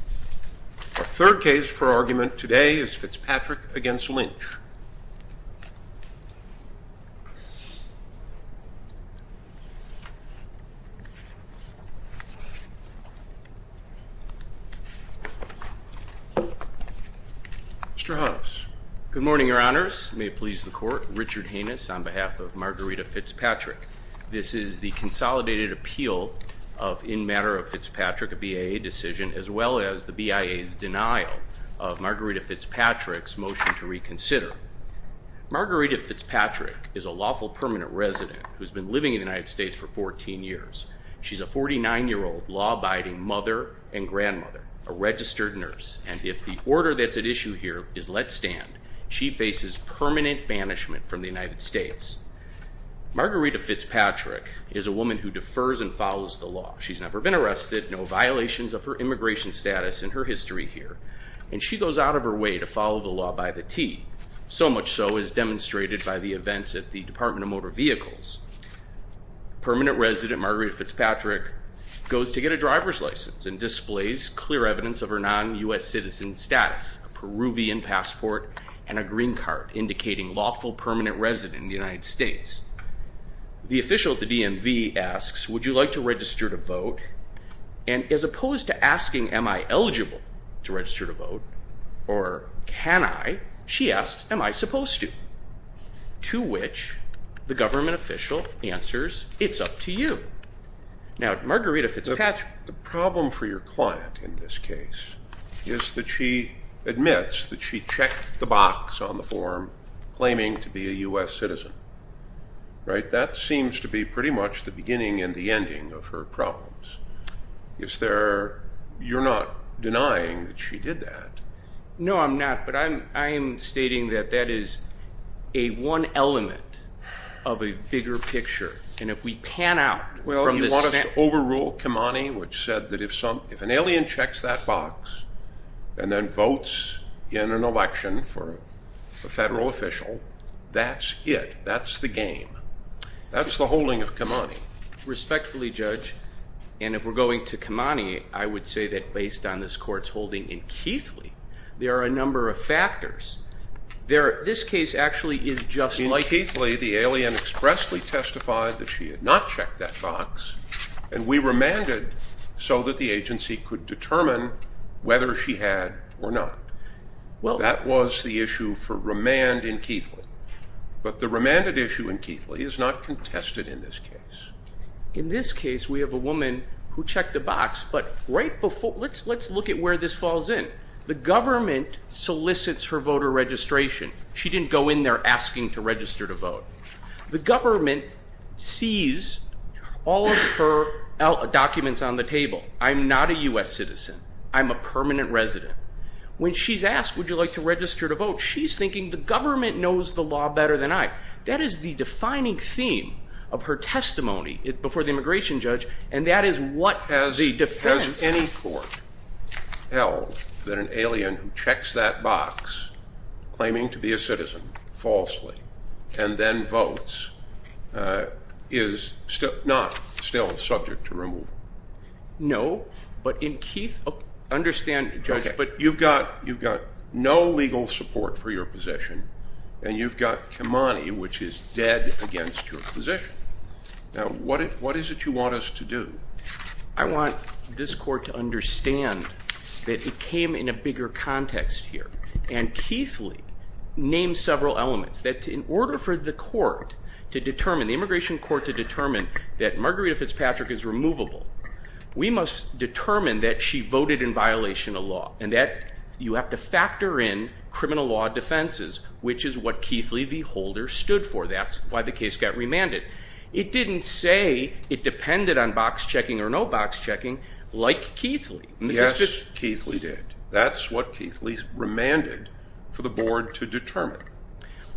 Our third case for argument today is Fitzpatrick v. Lynch. Mr. Huffs. Good morning, Your Honors. May it please the Court, Richard Hanus on behalf of Margarita Fitzpatrick. This is the consolidated appeal in matter of Fitzpatrick, a BIA decision, as well as the BIA's denial of Margarita Fitzpatrick's motion to reconsider. Margarita Fitzpatrick is a lawful permanent resident who's been living in the United States for 14 years. She's a 49-year-old law-abiding mother and grandmother, a registered nurse, and if the order that's at issue here is let stand, she faces permanent banishment from the United States. Margarita Fitzpatrick is a woman who defers and follows the law. She's never been arrested, no violations of her immigration status in her history here, and she goes out of her way to follow the law by the tee, so much so as demonstrated by the events at the Department of Motor Vehicles. Permanent resident Margarita Fitzpatrick goes to get a driver's license and displays clear evidence of her non-U.S. citizen status, a Peruvian passport and a green card indicating lawful permanent resident in the United States. The official at the DMV asks, would you like to register to vote? And as opposed to asking, am I eligible to register to vote, or can I, she asks, am I supposed to? To which the government official answers, it's up to you. Now, Margarita Fitzpatrick. The problem for your client in this case is that she admits that she checked the box on the form claiming to be a U.S. citizen, right? That seems to be pretty much the beginning and the ending of her problems. Is there, you're not denying that she did that? No, I'm not. But I am stating that that is a one element of a bigger picture. And if we pan out from this- Well, you want us to overrule Kamani, which said that if an alien checks that box and then votes in an election for a federal official, that's it. That's the game. That's the holding of Kamani. Respectfully, Judge, and if we're going to Kamani, I would say that based on this court's holding in Keithley, there are a number of factors. This case actually is just like- In Keithley, the alien expressly testified that she had not checked that box, and we remanded so that the agency could determine whether she had or not. That was the issue for remand in Keithley. But the remanded issue in Keithley is not contested in this case. In this case, we have a woman who checked the box, but right before- Let's look at where this falls in. The government solicits her voter registration. She didn't go in there asking to register to vote. The government sees all of her documents on the table. I'm not a U.S. citizen. I'm a permanent resident. When she's asked, would you like to register to vote, she's thinking, the government knows the law better than I. That is the defining theme of her testimony before the immigration judge, and that is what the defense- Has any court held that an alien who checks that box, claiming to be a citizen, falsely, and then votes, is not still subject to removal? No, but in Keith- Understand, Judge, but- You've got no legal support for your position, and you've got Kimani, which is dead against your position. Now, what is it you want us to do? I want this court to understand that it came in a bigger context here, and Keithley named several elements. In order for the immigration court to determine that Margarita Fitzpatrick is removable, we must determine that she voted in violation of law, and that you have to factor in criminal law defenses, which is what Keithley, the holder, stood for. That's why the case got remanded. It didn't say it depended on box checking or no box checking like Keithley. Yes, Keithley did. That's what Keithley remanded for the board to determine.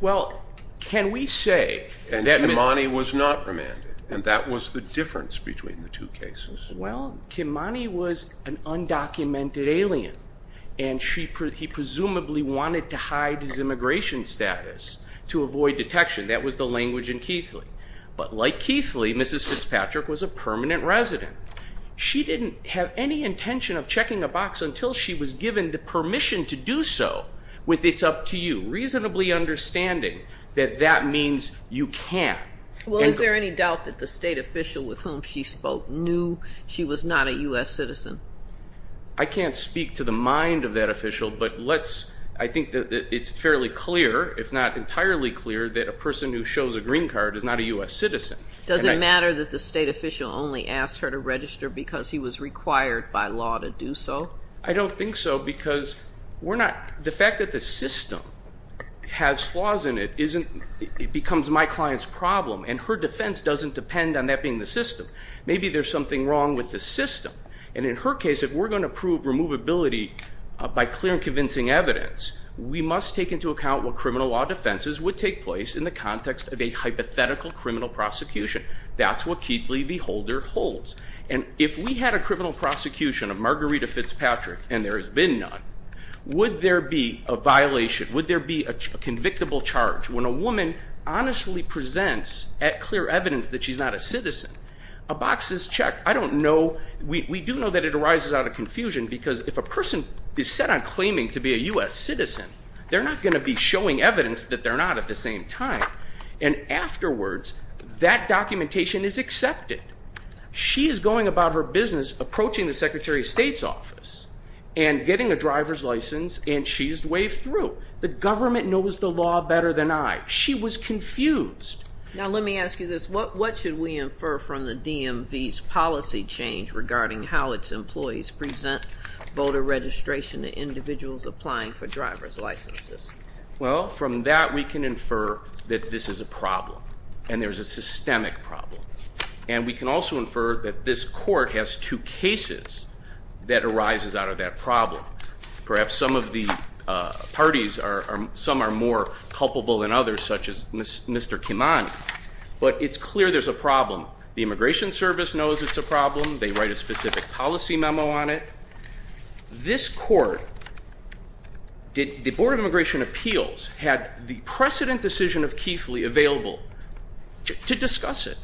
Well, can we say- And that Kimani was not remanded, and that was the difference between the two cases. Well, Kimani was an undocumented alien, and he presumably wanted to hide his immigration status to avoid detection. That was the language in Keithley. But like Keithley, Mrs. Fitzpatrick was a permanent resident. She didn't have any intention of checking a box until she was given the permission to do so with it's up to you, reasonably understanding that that means you can't. Well, is there any doubt that the state official with whom she spoke knew she was not a U.S. citizen? I can't speak to the mind of that official, but I think that it's fairly clear, if not entirely clear, that a person who shows a green card is not a U.S. citizen. Does it matter that the state official only asked her to register because he was required by law to do so? I don't think so, because the fact that the system has flaws in it becomes my client's problem, and her defense doesn't depend on that being the system. Maybe there's something wrong with the system. And in her case, if we're going to prove removability by clear and convincing evidence, we must take into account what criminal law defenses would take place in the context of a hypothetical criminal prosecution. That's what Keithley, the holder, holds. And if we had a criminal prosecution of Margarita Fitzpatrick, and there has been none, would there be a violation, would there be a convictable charge, when a woman honestly presents at clear evidence that she's not a citizen, a box is checked. I don't know. We do know that it arises out of confusion, because if a person is set on claiming to be a U.S. citizen, they're not going to be showing evidence that they're not at the same time. And afterwards, that documentation is accepted. She is going about her business approaching the Secretary of State's office and getting a driver's license, and she's waved through. The government knows the law better than I. She was confused. Now let me ask you this, what should we infer from the DMV's policy change regarding how its employees present voter registration to individuals applying for driver's licenses? Well, from that we can infer that this is a problem, and there's a systemic problem. And we can also infer that this court has two cases that arises out of that problem. Perhaps some of the parties, some are more culpable than others, such as Mr. Kimani. But it's clear there's a problem. The Immigration Service knows it's a problem. They write a specific policy memo on it. This court, the Board of Immigration Appeals, had the precedent decision of Kiefly available to discuss it,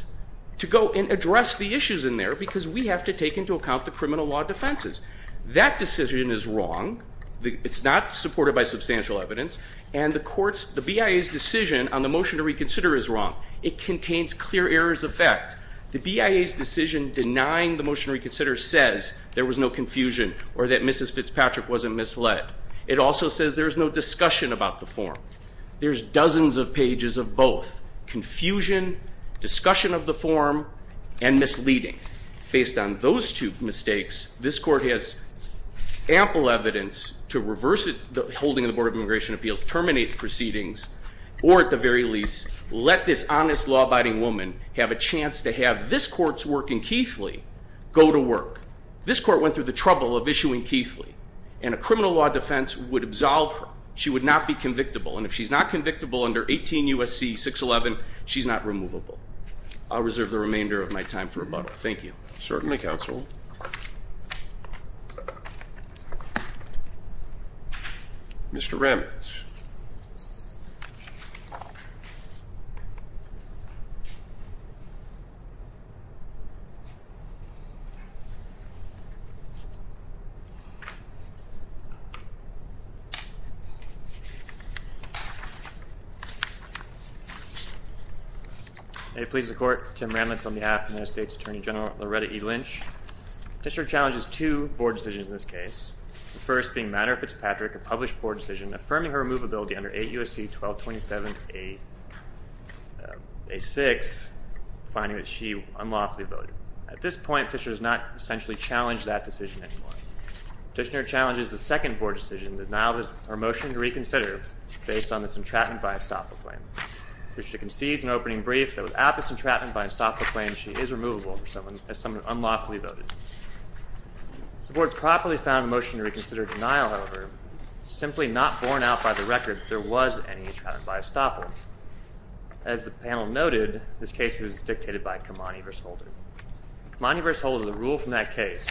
to go and address the issues in there, because we have to take into account the criminal law defenses. That decision is wrong. It's not supported by substantial evidence. And the court's, the BIA's decision on the motion to reconsider is wrong. It contains clear errors of fact. The BIA's decision denying the motion to reconsider says there was no confusion or that Mrs. Fitzpatrick wasn't misled. It also says there's no discussion about the form. There's dozens of pages of both, confusion, discussion of the form, and misleading. Based on those two mistakes, this court has ample evidence to reverse the holding of the Board of Immigration Appeals, terminate the proceedings, or at the very least, let this honest law-abiding woman have a chance to have this court's work in Kiefly go to work. This court went through the trouble of issuing Kiefly, and a criminal law defense would absolve her. She would not be convictable. And if she's not convictable under 18 U.S.C. 611, she's not removable. I'll reserve the remainder of my time for rebuttal. Thank you. If it pleases the Court, Tim Ramlitz on behalf of the United States Attorney General Loretta E. Lynch. The petitioner challenges two board decisions in this case, the first being Matter of Fitzpatrick, a published board decision, affirming her removability under 8 U.S.C. 1227A6, finding that she unlawfully voted. At this point, the petitioner has not essentially challenged that decision anymore. The petitioner challenges the second board decision, the denial of her motion to reconsider, based on this entrapment by a stop-the-claim. The petitioner concedes in opening brief that without this entrapment by a stop-the-claim, she is removable as someone unlawfully voted. If the board properly found a motion to reconsider denial, however, it's simply not borne out by the record that there was any entrapment by a stop-the-claim. As the panel noted, this case is dictated by Kamani v. Holder. Kamani v. Holder, the rule from that case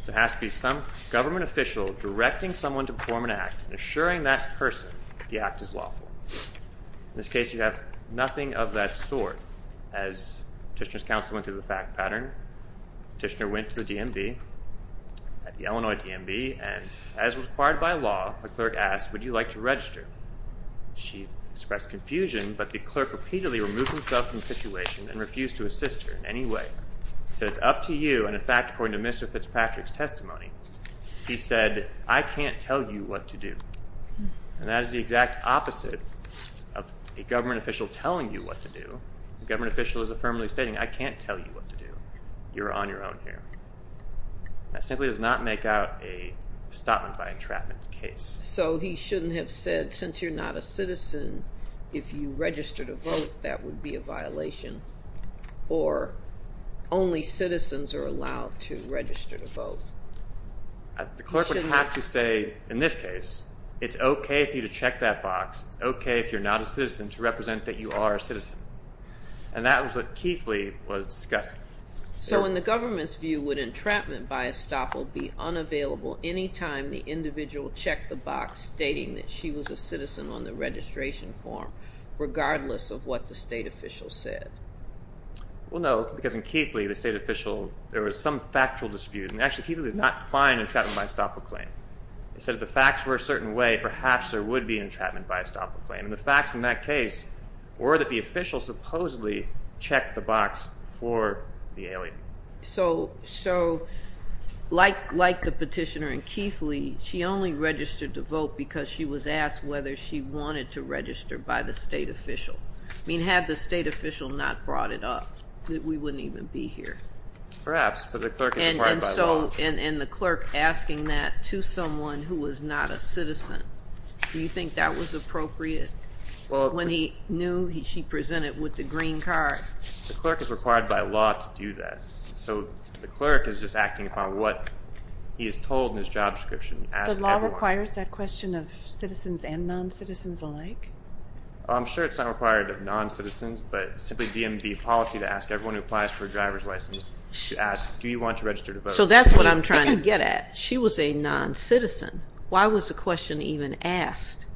is there has to be some government official directing someone to perform an act and assuring that person the act is lawful. In this case, you have nothing of that sort. As petitioner's counsel went through the fact pattern, petitioner went to the DMV, the Illinois DMV, and as required by law, the clerk asked, would you like to register? She expressed confusion, but the clerk repeatedly removed himself from the situation and refused to assist her in any way. He said, it's up to you, and in fact, according to Mr. Fitzpatrick's testimony, he said, I can't tell you what to do. And that is the exact opposite of a government official telling you what to do. A government official is affirmatively stating, I can't tell you what to do. You're on your own here. That simply does not make out a stop-it-by-entrapment case. So he shouldn't have said, since you're not a citizen, if you register to vote, that would be a violation, or only citizens are allowed to register to vote. The clerk would have to say, in this case, it's okay for you to check that box. It's okay if you're not a citizen to represent that you are a citizen. And that was what Keithley was discussing. So in the government's view, would entrapment by estoppel be unavailable any time the individual checked the box stating that she was a citizen on the registration form, regardless of what the state official said? Well, no, because in Keithley, the state official, there was some factual dispute. And actually, Keithley did not find entrapment by estoppel claim. Instead, if the facts were a certain way, perhaps there would be entrapment by estoppel claim. And the facts in that case were that the official supposedly checked the box for the alien. So like the petitioner in Keithley, she only registered to vote because she was asked whether she wanted to register by the state official. I mean, had the state official not brought it up, we wouldn't even be here. Perhaps, but the clerk is required by law. And the clerk asking that to someone who was not a citizen, do you think that was appropriate? When he knew she presented with the green card. The clerk is required by law to do that. So the clerk is just acting upon what he is told in his job description. But law requires that question of citizens and non-citizens alike? I'm sure it's not required of non-citizens. But simply DMV policy to ask everyone who applies for a driver's license to ask, do you want to register to vote? So that's what I'm trying to get at. She was a non-citizen. Why was the question even asked?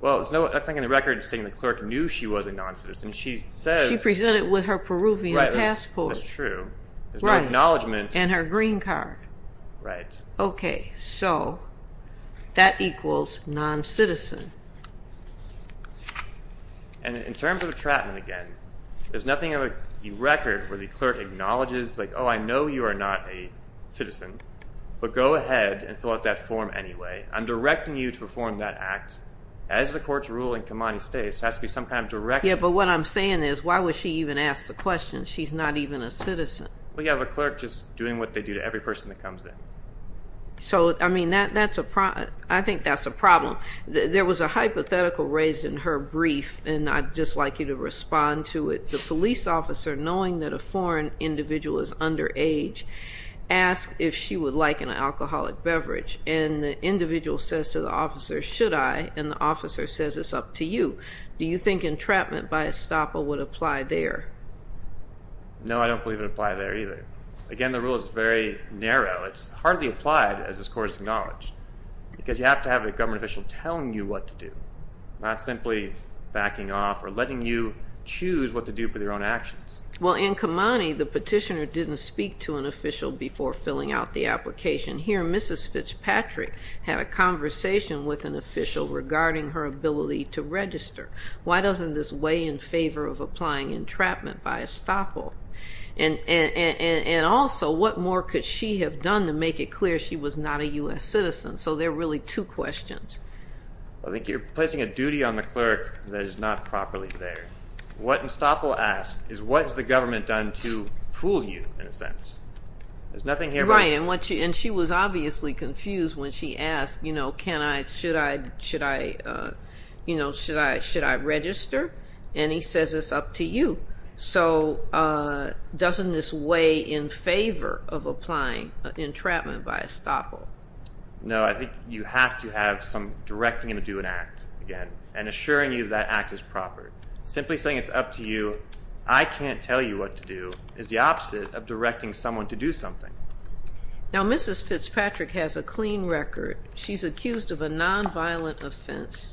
Well, I think in the record it's saying the clerk knew she was a non-citizen. She says. She presented with her Peruvian passport. That's true. There's no acknowledgment. And her green card. Right. Okay. So that equals non-citizen. And in terms of entrapment, again, there's nothing in the record where the clerk acknowledges, like, oh, I know you are not a citizen. But go ahead and fill out that form anyway. I'm directing you to perform that act. As the courts rule in Comani States, there has to be some kind of direction. Yeah, but what I'm saying is why would she even ask the question? She's not even a citizen. Well, you have a clerk just doing what they do to every person that comes in. So, I mean, that's a problem. I think that's a problem. There was a hypothetical raised in her brief, and I'd just like you to respond to it. The police officer, knowing that a foreign individual is underage, asked if she would like an alcoholic beverage. And the individual says to the officer, should I? And the officer says it's up to you. Do you think entrapment by estoppel would apply there? No, I don't believe it would apply there either. Again, the rule is very narrow. It's hardly applied, as this Court has acknowledged, because you have to have a government official telling you what to do, not simply backing off or letting you choose what to do for your own actions. Well, in Comani, the petitioner didn't speak to an official before filling out the application. Here, Mrs. Fitzpatrick had a conversation with an official regarding her ability to register. Why doesn't this weigh in favor of applying entrapment by estoppel? And also, what more could she have done to make it clear she was not a U.S. citizen? So there are really two questions. I think you're placing a duty on the clerk that is not properly there. What estoppel asked is what has the government done to fool you, in a sense. There's nothing here about it. Right, and she was obviously confused when she asked, you know, should I register? And he says it's up to you. So doesn't this weigh in favor of applying entrapment by estoppel? No, I think you have to have some directing you to do an act, again, and assuring you that act is proper. Simply saying it's up to you, I can't tell you what to do, is the opposite of directing someone to do something. Now, Mrs. Fitzpatrick has a clean record. She's accused of a nonviolent offense,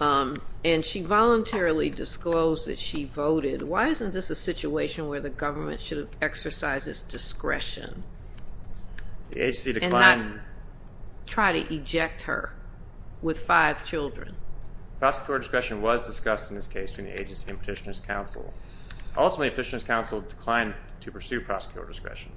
and she voluntarily disclosed that she voted. Why isn't this a situation where the government should have exercised its discretion? The agency declined. And not try to eject her with five children. Prosecutorial discretion was discussed in this case between the agency and Petitioner's Council. Ultimately, Petitioner's Council declined to pursue prosecutorial discretion.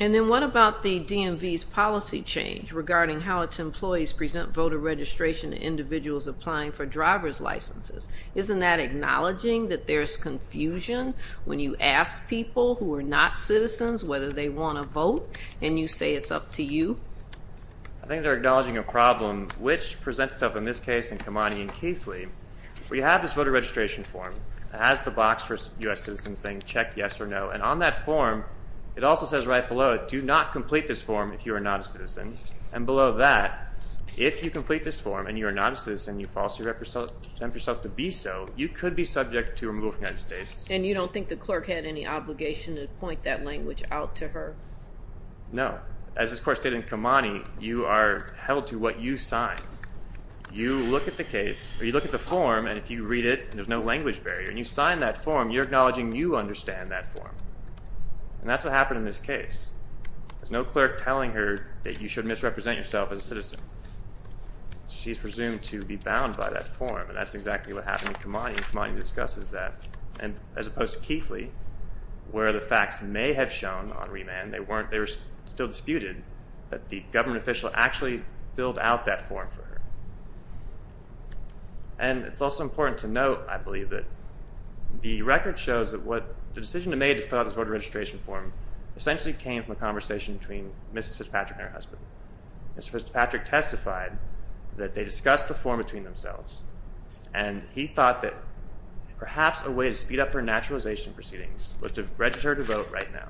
And then what about the DMV's policy change regarding how its employees present voter registration to individuals applying for driver's licenses? Isn't that acknowledging that there's confusion when you ask people who are not citizens whether they want to vote, and you say it's up to you? I think they're acknowledging a problem, which presents itself in this case in Kamani and Keithley, where you have this voter registration form. It has the box for U.S. citizens saying check, yes or no. And on that form, it also says right below, do not complete this form if you are not a citizen. And below that, if you complete this form and you are not a citizen, you falsely attempt yourself to be so, you could be subject to removal from the United States. And you don't think the clerk had any obligation to point that language out to her? No. As is of course stated in Kamani, you are held to what you sign. You look at the case, or you look at the form, and if you read it, and there's no language barrier, and you sign that form, you're acknowledging you understand that form. And that's what happened in this case. There's no clerk telling her that you should misrepresent yourself as a citizen. She's presumed to be bound by that form, and that's exactly what happened in Kamani, and Kamani discusses that, as opposed to Keithley, where the facts may have shown on remand, they were still disputed, that the government official actually filled out that form for her. And it's also important to note, I believe, that the record shows that the decision to fill out this voter registration form essentially came from a conversation between Mrs. Fitzpatrick and her husband. Mrs. Fitzpatrick testified that they discussed the form between themselves, and he thought that perhaps a way to speed up her naturalization proceedings was to register to vote right now.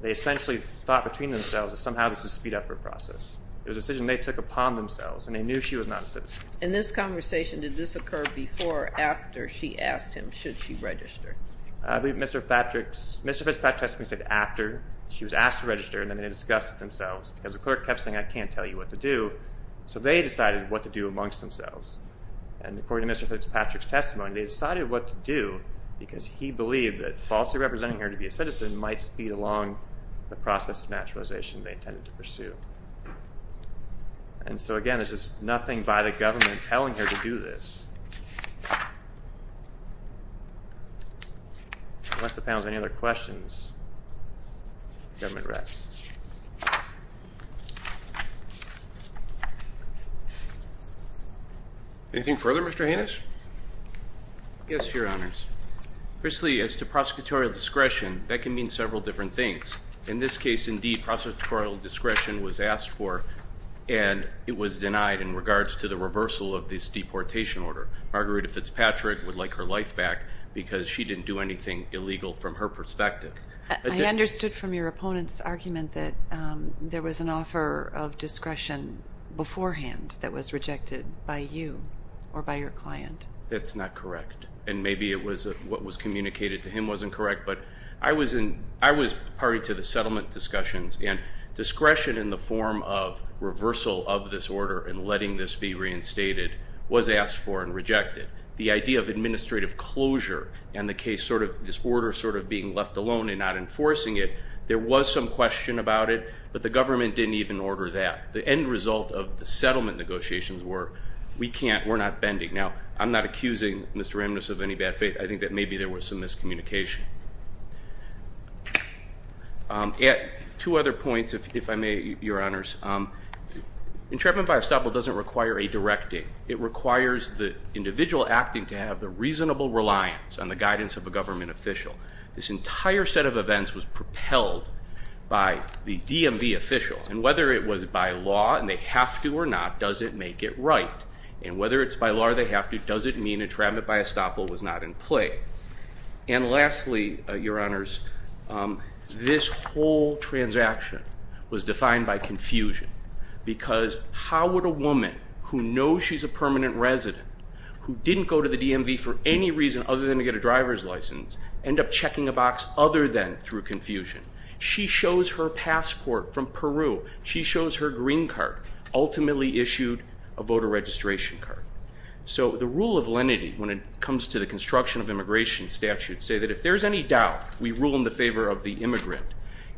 They essentially thought between themselves that somehow this would speed up her process. It was a decision they took upon themselves, and they knew she was not a citizen. In this conversation, did this occur before or after she asked him should she register? I believe Mr. Fitzpatrick testified after she was asked to register, and then they discussed it themselves, because the clerk kept saying, I can't tell you what to do. So they decided what to do amongst themselves, and according to Mr. Fitzpatrick's testimony, they decided what to do because he believed that falsely representing her to be a citizen might speed along the process of naturalization they intended to pursue. And so, again, there's just nothing by the government telling her to do this. Unless the panel has any other questions, the government rests. Anything further, Mr. Hanus? Yes, Your Honors. Firstly, as to prosecutorial discretion, that can mean several different things. In this case, indeed, prosecutorial discretion was asked for, and it was denied in regards to the reversal of this deportation order. Margarita Fitzpatrick would like her life back because she didn't do anything illegal from her perspective. I understood from your opponent's argument that there was an offer of discretion beforehand that was rejected by you or by your client. That's not correct, and maybe what was communicated to him wasn't correct, but I was party to the settlement discussions, and discretion in the form of reversal of this order and letting this be reinstated was asked for and rejected. The idea of administrative closure and this order sort of being left alone and not enforcing it, there was some question about it, but the government didn't even order that. The end result of the settlement negotiations were we're not bending. Now, I'm not accusing Mr. Ramnuss of any bad faith. I think that maybe there was some miscommunication. Two other points, if I may, Your Honors. Entrapment by estoppel doesn't require a directing. It requires the individual acting to have the reasonable reliance on the guidance of a government official. This entire set of events was propelled by the DMV official, and whether it was by law and they have to or not doesn't make it right, and whether it's by law or they have to doesn't mean entrapment by estoppel was not in play. And lastly, Your Honors, this whole transaction was defined by confusion because how would a woman who knows she's a permanent resident, who didn't go to the DMV for any reason other than to get a driver's license, end up checking a box other than through confusion? She shows her passport from Peru. She shows her green card, ultimately issued a voter registration card. So the rule of lenity, when it comes to the construction of immigration statutes, say that if there's any doubt, we rule in the favor of the immigrant.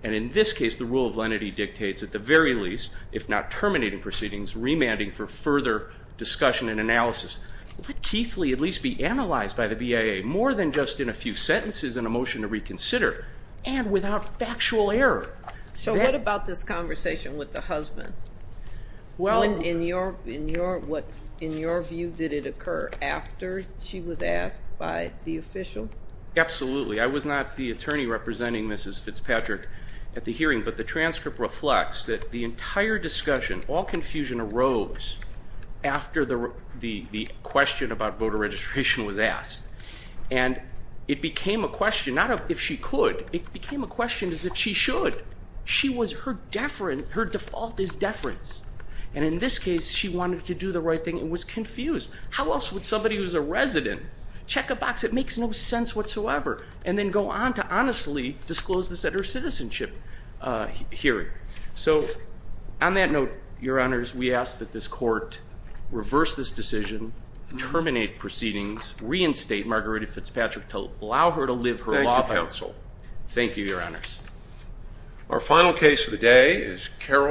And in this case, the rule of lenity dictates at the very least, if not terminating proceedings, remanding for further discussion and analysis. Let Keithley at least be analyzed by the BIA more than just in a few sentences and a motion to reconsider and without factual error. So what about this conversation with the husband? In your view, did it occur after she was asked by the official? Absolutely. I was not the attorney representing Mrs. Fitzpatrick at the hearing, but the transcript reflects that the entire discussion, all confusion arose after the question about voter registration was asked. And it became a question not of if she could. It became a question as if she should. Her default is deference. And in this case, she wanted to do the right thing and was confused. How else would somebody who's a resident check a box? It makes no sense whatsoever. And then go on to honestly disclose this at her citizenship hearing. So on that note, Your Honors, we ask that this court reverse this decision, terminate proceedings, reinstate Margarita Fitzpatrick to allow her to live her law life. Thank you, counsel. Thank you, Your Honors. Our final case of the day is Carol.